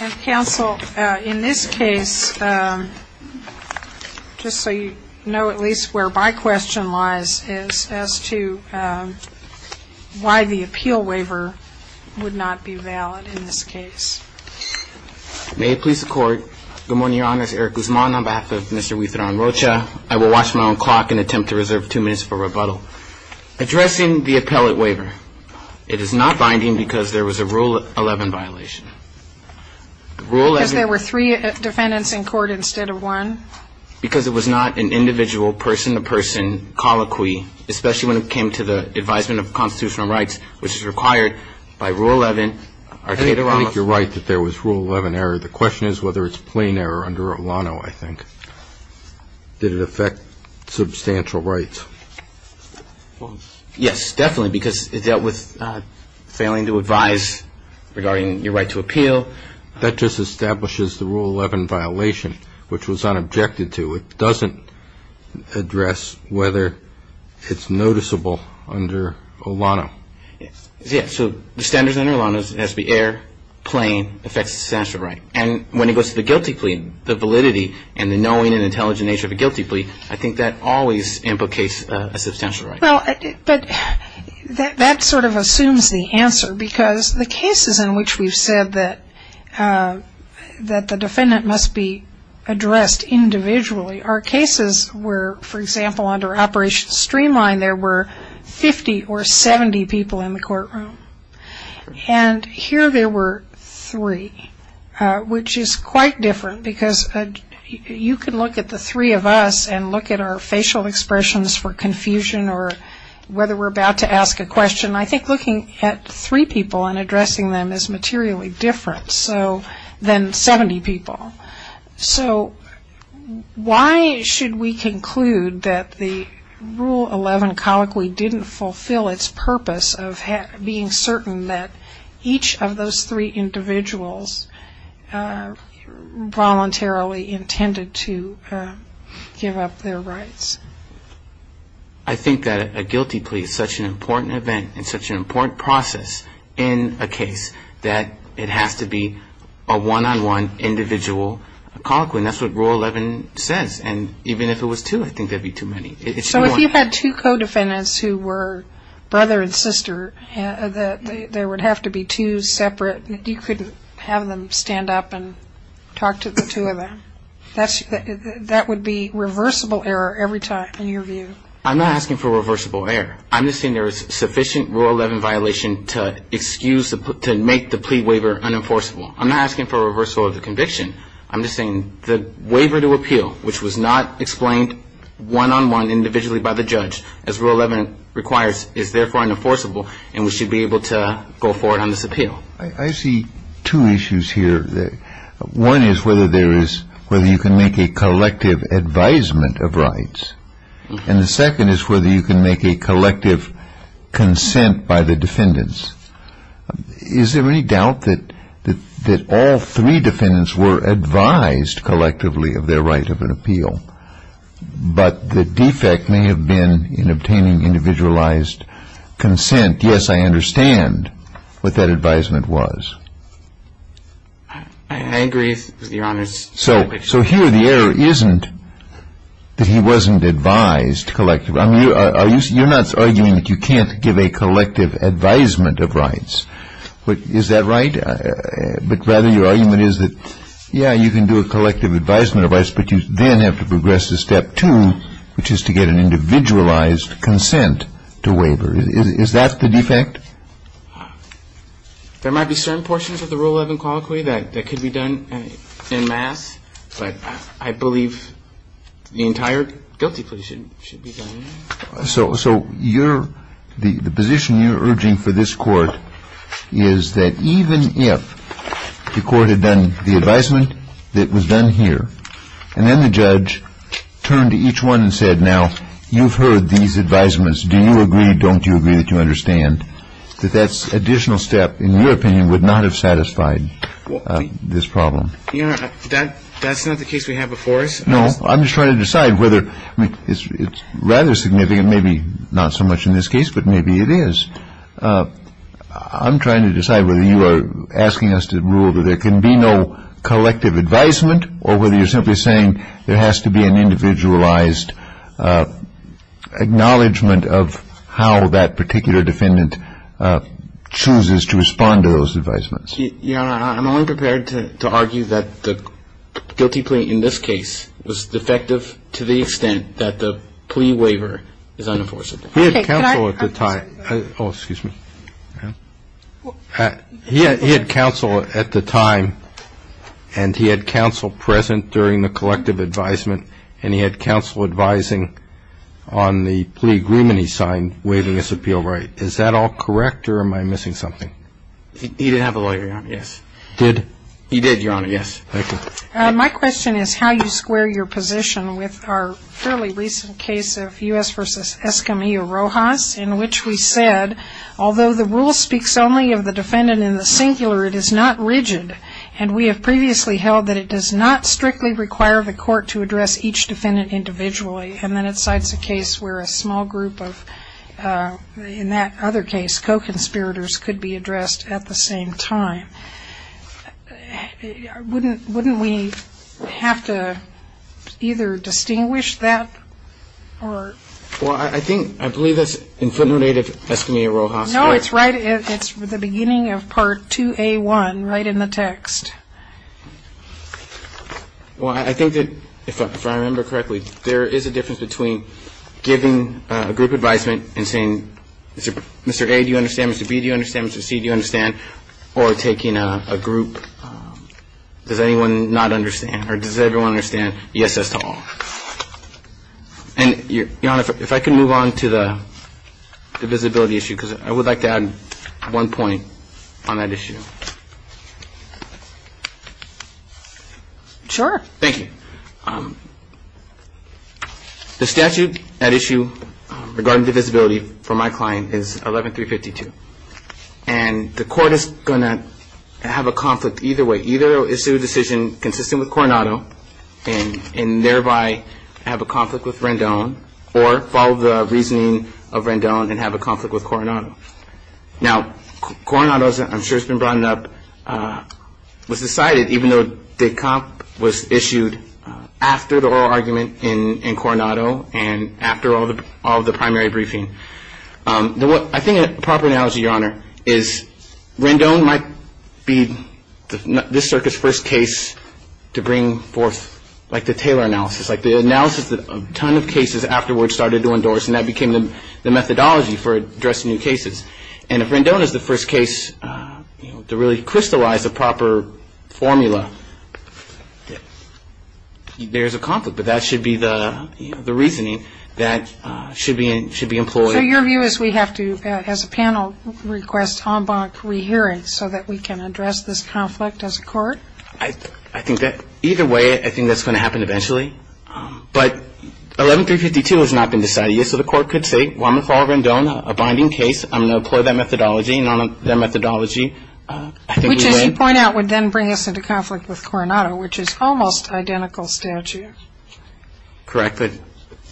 And counsel, in this case, just so you know at least where my question lies is as to why the appeal waiver would not be valid in this case. May it please the court. Good morning, your honors. Eric Guzman on behalf of Mr. Huitron-Rocha. I will watch my own clock and attempt to reserve two minutes for rebuttal. Addressing the appellate waiver, it is not binding because there was a Rule 11 violation. Rule 11. Because there were three defendants in court instead of one. Because it was not an individual person-to-person colloquy, especially when it came to the advisement of constitutional rights, which is required by Rule 11. I think you're right that there was Rule 11 error. The question is whether it's plain error under Olano, I think. Did it affect substantial rights? Yes, definitely, because it dealt with failing to advise regarding your right to appeal. That just establishes the Rule 11 violation, which was unobjected to. It doesn't address whether it's noticeable under Olano. So the standards under Olano has to be error, plain, affects substantial right. And when it goes to the guilty plea, the validity and the knowing and intelligent nature of a guilty plea, I think that always implicates a substantial right. But that sort of assumes the answer, because the cases in which we've said that the defendant must be addressed individually are cases where, for example, under Operation Streamline, there were 50 or 70 people in the courtroom. And here there were three, which is quite different, because you can look at the three of us and look at our facial expressions for confusion or whether we're about to ask a question. I think looking at three people and addressing them is materially different than 70 people. So why should we conclude that the Rule 11 colloquy didn't fulfill its purpose of being certain that each of those three individuals voluntarily intended to give up their rights? I think that a guilty plea is such an important event and such an important process in a case that it has to be a one-on-one individual colloquy. And that's what Rule 11 says. And even if it was two, I think that would be too many. So if you had two co-defendants who were brother and sister, there would have to be two separate, you couldn't have them stand up and talk to the two of them. That would be reversible error every time, in your view. I'm not asking for reversible error. I'm just saying there is sufficient Rule 11 violation to excuse, to make the plea waiver unenforceable. I'm not asking for a reversal of the conviction. I'm just saying the waiver to appeal, which was not explained one-on-one individually by the judge, as Rule 11 requires, is therefore unenforceable, and we should be able to go forward on this appeal. I see two issues here. One is whether there is, whether you can make a collective advisement of rights. And the second is whether you can make a collective consent by the defendants. Is there any doubt that all three defendants were advised collectively of their right of an appeal, but the defect may have been in obtaining individualized consent? Yes, I understand what that advisement was. I agree, Your Honors. So here the error isn't that he wasn't advised collectively. I mean, you're not arguing that you can't give a collective advisement of rights. Is that right? But rather your argument is that, yeah, you can do a collective advisement of rights, but you then have to progress to step two, which is to get an individualized consent to waiver. Is that the defect? There might be certain portions of the Rule 11 colloquy that could be done in mass, but I believe the entire guilty plea should be done in mass. So the position you're urging for this Court is that even if the Court had done the advisement that was done here, and then the judge turned to each one and said, now, you've heard these advisements. Do you agree? Don't you agree that you understand? That that additional step, in your opinion, would not have satisfied this problem? Your Honor, that's not the case we have before us. No. I'm just trying to decide whether it's rather significant, maybe not so much in this case, but maybe it is. I'm trying to decide whether you are asking us to rule that there can be no collective advisement or whether you're simply saying there has to be an individualized acknowledgement of how that particular defendant chooses to respond to those advisements. Your Honor, I'm only prepared to argue that the guilty plea in this case was defective to the extent that the plea waiver is unenforced. He had counsel at the time. Oh, excuse me. He had counsel at the time, and he had counsel present during the collective advisement, and he had counsel advising on the plea agreement he signed waiving his appeal right. Is that all correct, or am I missing something? He didn't have a lawyer, Your Honor. Yes. Did? He did, Your Honor. Yes. Thank you. My question is how you square your position with our fairly recent case of U.S. in which we said, although the rule speaks only of the defendant in the singular, it is not rigid, and we have previously held that it does not strictly require the court to address each defendant individually, and then it cites a case where a small group of, in that other case, co-conspirators could be addressed at the same time. Wouldn't we have to either distinguish that or? Well, I think, I believe that's in footnote 8 of Eskimier-Rojas. No, it's right, it's the beginning of part 2A1 right in the text. Well, I think that, if I remember correctly, there is a difference between giving a group advisement and saying, Mr. A, do you understand? Mr. B, do you understand? Mr. C, do you understand? Or taking a group, does anyone not understand? Or does everyone understand? Yes, that's to all. And, Your Honor, if I can move on to the visibility issue, because I would like to add one point on that issue. Sure. Thank you. The statute at issue regarding the visibility for my client is 11-352. And the court is going to have a conflict either way. Either it will issue a decision consistent with Coronado and thereby have a conflict with Rendon or follow the reasoning of Rendon and have a conflict with Coronado. Now, Coronado, I'm sure it's been brought up, was decided, even though the comp was issued after the oral argument in Coronado and after all of the primary briefing. I think a proper analogy, Your Honor, is Rendon might be this circuit's first case to bring forth like the Taylor analysis, like the analysis that a ton of cases afterwards started to endorse, and that became the methodology for addressing new cases. And if Rendon is the first case to really crystallize the proper formula, there is a conflict. But that should be the reasoning that should be employed. So your view is we have to, as a panel, request en banc rehearing so that we can address this conflict as a court? I think that either way, I think that's going to happen eventually. But 11-352 has not been decided yet, so the court could say, well, I'm going to follow Rendon, a binding case. I'm going to employ that methodology. And on that methodology, I think we would. What you point out would then bring us into conflict with Coronado, which is almost identical statute. Correct, but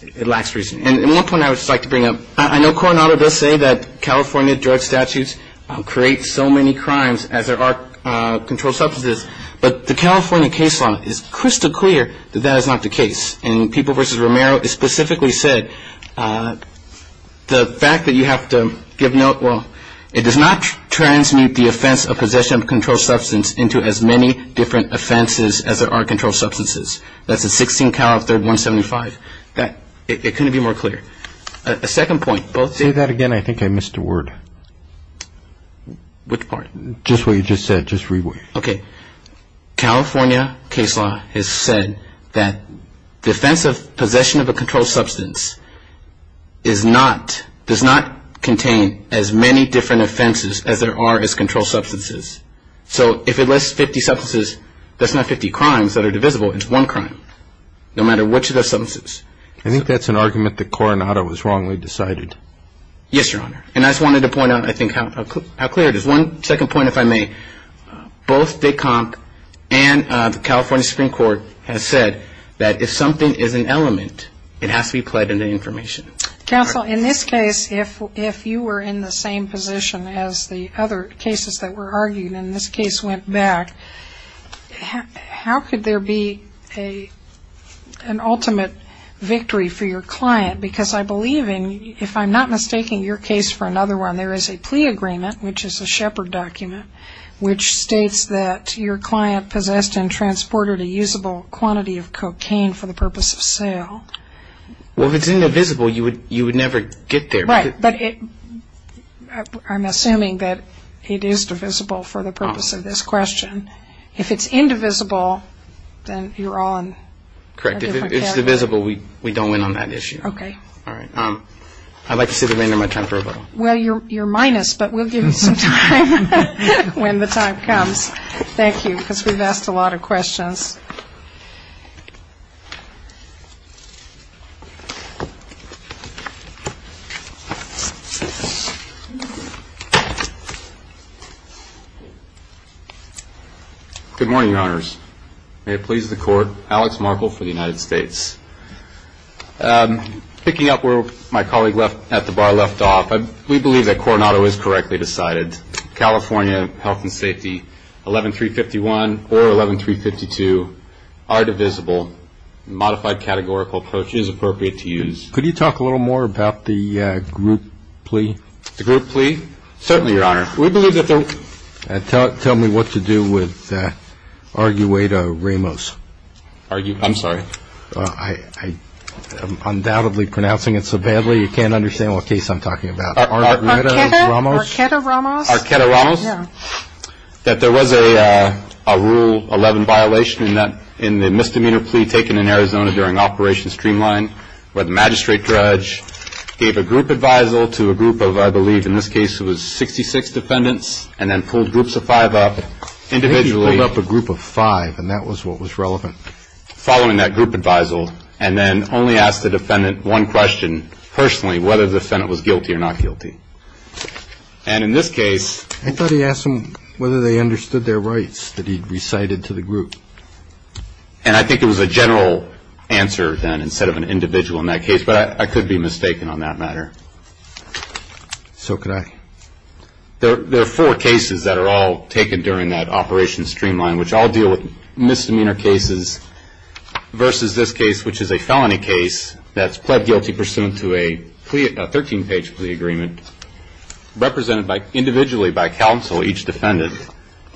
it lacks reasoning. And one point I would just like to bring up, I know Coronado does say that California drug statutes create so many crimes, as there are controlled substances, but the California case law is crystal clear that that is not the case. And People v. Romero specifically said the fact that you have to give note, well, it does not transmute the offense of possession of a controlled substance into as many different offenses as there are controlled substances. That's in 16 Calif. 3rd. 175. It couldn't be more clear. A second point. Say that again. I think I missed a word. Which part? Just what you just said. Just read what you said. Okay. California case law has said that the offense of possession of a controlled substance is not, does not contain as many different offenses as there are as controlled substances. So if it lists 50 substances, that's not 50 crimes that are divisible. It's one crime, no matter which of the substances. I think that's an argument that Coronado was wrongly decided. Yes, Your Honor. And I just wanted to point out, I think, how clear it is. One second point, if I may. Both DICOMC and the California Supreme Court have said that if something is an element, it has to be played into information. Counsel, in this case, if you were in the same position as the other cases that were argued and this case went back, how could there be an ultimate victory for your client? Because I believe, if I'm not mistaking your case for another one, there is a plea agreement, which is a Shepard document, which states that your client possessed and transported a usable quantity of cocaine for the purpose of sale. Well, if it's indivisible, you would never get there. Right. But I'm assuming that it is divisible for the purpose of this question. If it's indivisible, then you're on a different character. Correct. If it's divisible, we don't win on that issue. Okay. All right. I'd like to see the remainder of my time for rebuttal. Well, you're minus, but we'll give you some time when the time comes. Thank you, because we've asked a lot of questions. Good morning, Your Honors. May it please the Court, Alex Markle for the United States. Picking up where my colleague at the bar left off, we believe that Coronado is correctly decided. California Health and Safety, 11351 or 11352 are divisible. Modified categorical approach is appropriate to use. Could you talk a little more about the group plea? The group plea? Certainly, Your Honor. We believe that they're – Tell me what to do with Argueta Ramos. I'm sorry? I'm undoubtedly pronouncing it so badly, you can't understand what case I'm talking about. Argueta Ramos? Argueta Ramos? Argueta Ramos? Yeah. That there was a Rule 11 violation in the misdemeanor plea taken in Arizona during Operation Streamline where the magistrate judge gave a group advisal to a group of, I believe in this case it was 66 defendants, and then pulled groups of five up individually. Maybe he pulled up a group of five, and that was what was relevant. Following that group advisal, and then only asked the defendant one question personally, whether the defendant was guilty or not guilty. And in this case – I thought he asked them whether they understood their rights that he'd recited to the group. And I think it was a general answer, then, instead of an individual in that case, but I could be mistaken on that matter. So could I. There are four cases that are all taken during that Operation Streamline, which all deal with misdemeanor cases versus this case, which is a felony case that's pled guilty pursuant to a 13-page plea agreement, represented individually by counsel, each defendant,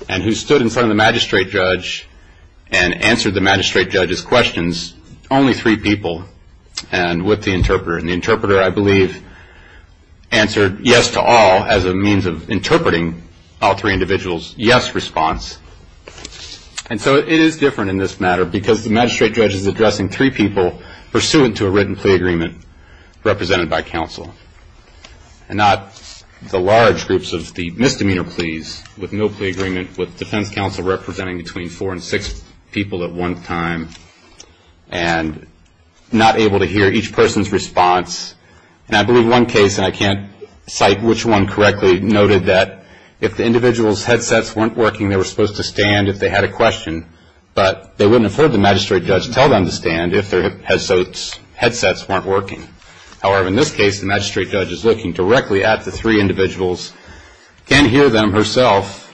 and who stood in front of the magistrate judge and answered the magistrate judge's questions, only three people, and with the interpreter. And the interpreter, I believe, answered yes to all as a means of interpreting all three individuals' yes response. And so it is different in this matter, because the magistrate judge is addressing three people pursuant to a written plea agreement represented by counsel, and not the large groups of the misdemeanor pleas with no plea agreement, with defense counsel representing between four and six people at one time, and not able to hear each person's response. And I believe one case, and I can't cite which one correctly, noted that if the individual's headsets weren't working, they were supposed to stand if they had a question, but they wouldn't have heard the magistrate judge tell them to stand if their headsets weren't working. However, in this case, the magistrate judge is looking directly at the three individuals, can't hear them herself,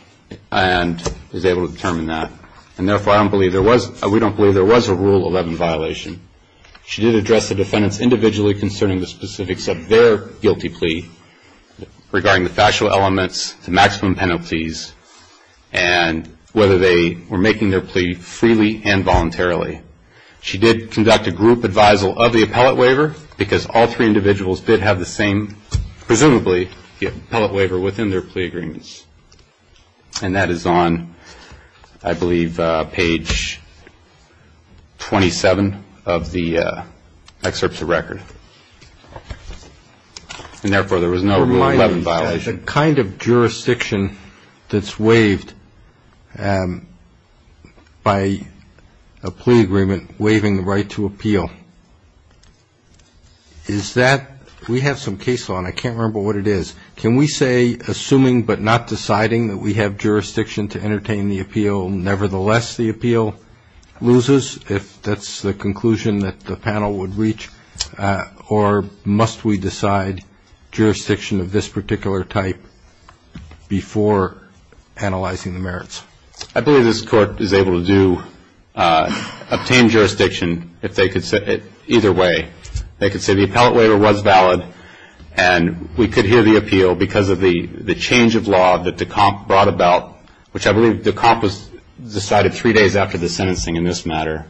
and is able to determine that. And therefore, we don't believe there was a Rule 11 violation. She did address the defendants individually concerning the specifics of their guilty plea, regarding the factual elements, the maximum penalties, and whether they were making their plea freely and voluntarily. She did conduct a group advisal of the appellate waiver, because all three individuals did have the same, presumably, the appellate waiver within their plea agreements. And that is on, I believe, page 27 of the excerpts of record. And therefore, there was no Rule 11 violation. The kind of jurisdiction that's waived by a plea agreement waiving the right to appeal, is that we have some case law, and I can't remember what it is. Can we say, assuming but not deciding that we have jurisdiction to entertain the appeal, nevertheless the appeal loses, if that's the conclusion that the panel would reach? Or must we decide jurisdiction of this particular type before analyzing the merits? I believe this Court is able to obtain jurisdiction either way. They could say the appellate waiver was valid, and we could hear the appeal because of the change of law that Decomp brought about, which I believe Decomp decided three days after the sentencing in this matter.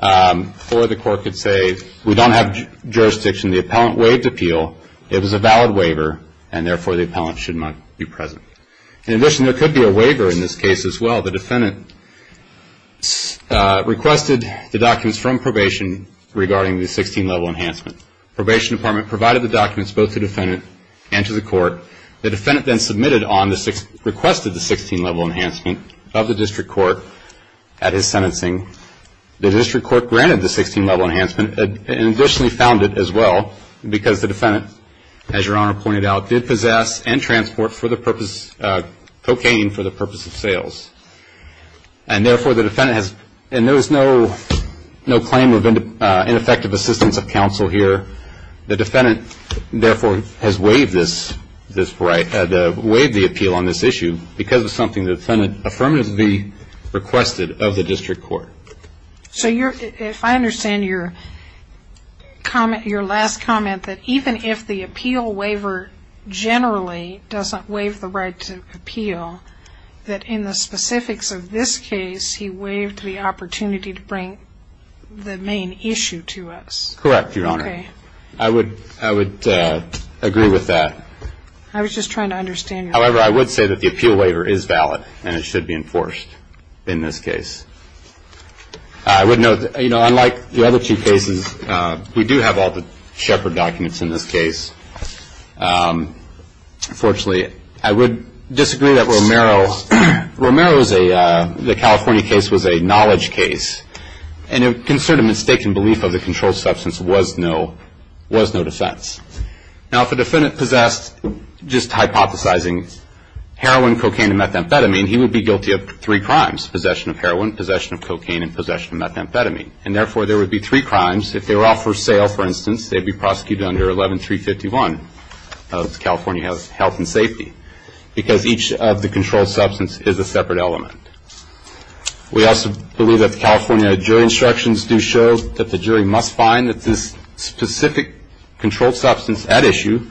Or the Court could say, we don't have jurisdiction. The appellant waived appeal. It was a valid waiver, and therefore the appellant should not be present. In addition, there could be a waiver in this case as well. The defendant requested the documents from probation regarding the 16-level enhancement. The probation department provided the documents both to the defendant and to the Court. The defendant then requested the 16-level enhancement of the district court at his sentencing. The district court granted the 16-level enhancement and additionally found it as well because the defendant, as Your Honor pointed out, did possess and transport cocaine for the purpose of sales. And there is no claim of ineffective assistance of counsel here. The defendant, therefore, has waived the appeal on this issue because of something the defendant affirmatively requested of the district court. So if I understand your comment, your last comment, that even if the appeal waiver generally doesn't waive the right to appeal, that in the specifics of this case he waived the opportunity to bring the main issue to us. Correct, Your Honor. Okay. I would agree with that. I was just trying to understand your comment. However, I would say that the appeal waiver is valid and it should be enforced in this case. I would note, you know, unlike the other two cases, we do have all the Shepard documents in this case. Unfortunately, I would disagree that Romero's, the California case was a knowledge case, and a concern of mistaken belief of the controlled substance was no defense. Now, if a defendant possessed, just hypothesizing, heroin, cocaine, and methamphetamine, he would be guilty of three crimes, possession of heroin, possession of cocaine, and possession of methamphetamine. And therefore, there would be three crimes. If they were all for sale, for instance, they would be prosecuted under 11351 of the California Health and Safety because each of the controlled substance is a separate element. We also believe that the California jury instructions do show that the jury must find that this specific controlled substance at issue,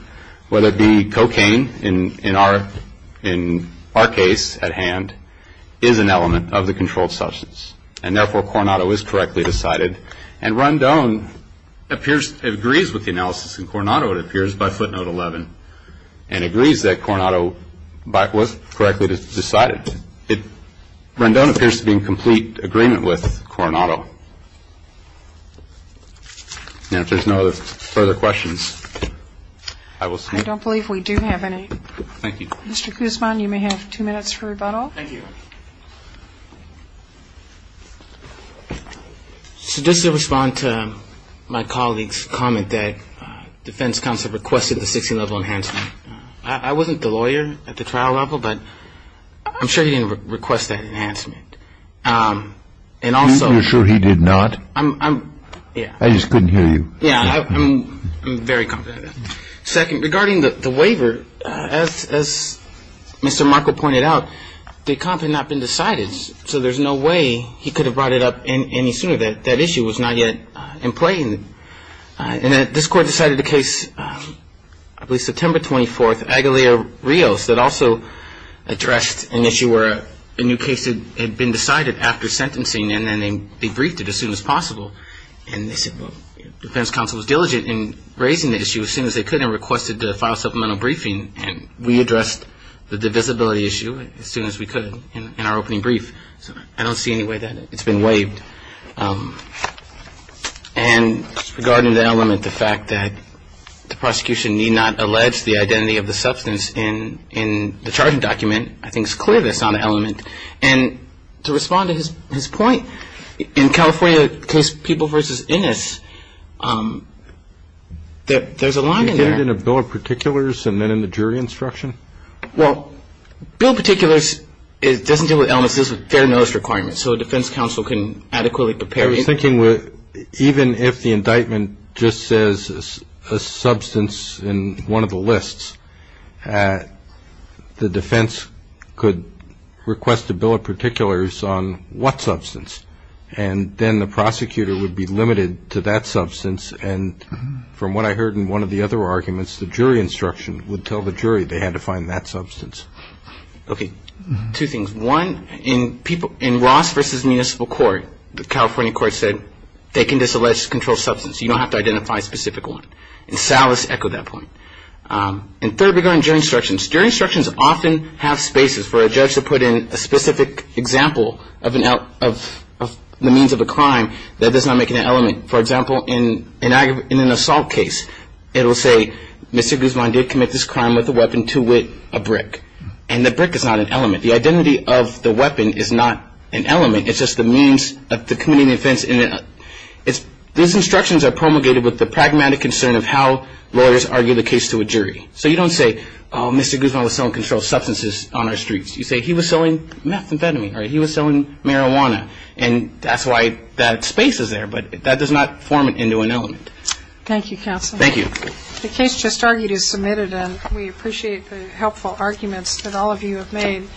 whether it be cocaine in our case at hand, is an element of the controlled substance. And therefore, Coronado is correctly decided. And Rondon appears, agrees with the analysis in Coronado, it appears, by footnote 11, and agrees that Coronado was correctly decided. And in fact, Rondon appears to be in complete agreement with Coronado. Now, if there's no further questions, I will stop. I don't believe we do have any. Thank you. Mr. Kuzman, you may have two minutes for rebuttal. Thank you. So just to respond to my colleague's comment that defense counsel requested the 16-level enhancement, I wasn't the lawyer at the trial level, but I'm sure he didn't request that enhancement. And also you're sure he did not? I'm, yeah. I just couldn't hear you. Yeah, I'm very confident. Second, regarding the waiver, as Mr. Markle pointed out, the comp had not been decided, so there's no way he could have brought it up any sooner. That issue was not yet in play. And this court decided the case, I believe September 24th, Agalio-Rios, that also addressed an issue where a new case had been decided after sentencing, and then they briefed it as soon as possible. And they said, well, defense counsel was diligent in raising the issue as soon as they could and requested to file a supplemental briefing, and we addressed the divisibility issue as soon as we could in our opening brief. So I don't see any way that it's been waived. And regarding the element, the fact that the prosecution need not allege the identity of the substance in the charging document, I think it's clear that's not an element. And to respond to his point, in California, case People v. Innis, there's a line in there. You did it in a bill of particulars and then in the jury instruction? Well, bill of particulars doesn't deal with elements. It deals with fair notice requirements. So a defense counsel can adequately prepare. I was thinking even if the indictment just says a substance in one of the lists, the defense could request a bill of particulars on what substance, and then the prosecutor would be limited to that substance. And from what I heard in one of the other arguments, the jury instruction would tell the jury they had to find that substance. Okay. Two things. One, in Ross v. Municipal Court, the California court said they can disallege controlled substance. You don't have to identify a specific one. And Salas echoed that point. And third, regarding jury instructions, jury instructions often have spaces for a judge to put in a specific example of the means of a crime that does not make it an element. For example, in an assault case, it will say, Mr. Guzman did commit this crime with a weapon to wit, a brick. And the brick is not an element. The identity of the weapon is not an element. It's just the means of committing the offense. These instructions are promulgated with the pragmatic concern of how lawyers argue the case to a jury. So you don't say, oh, Mr. Guzman was selling controlled substances on our streets. You say, he was selling methamphetamine, or he was selling marijuana. And that's why that space is there, but that does not form it into an element. Thank you, counsel. Thank you. The case just argued is submitted, and we appreciate the helpful arguments that all of you have made.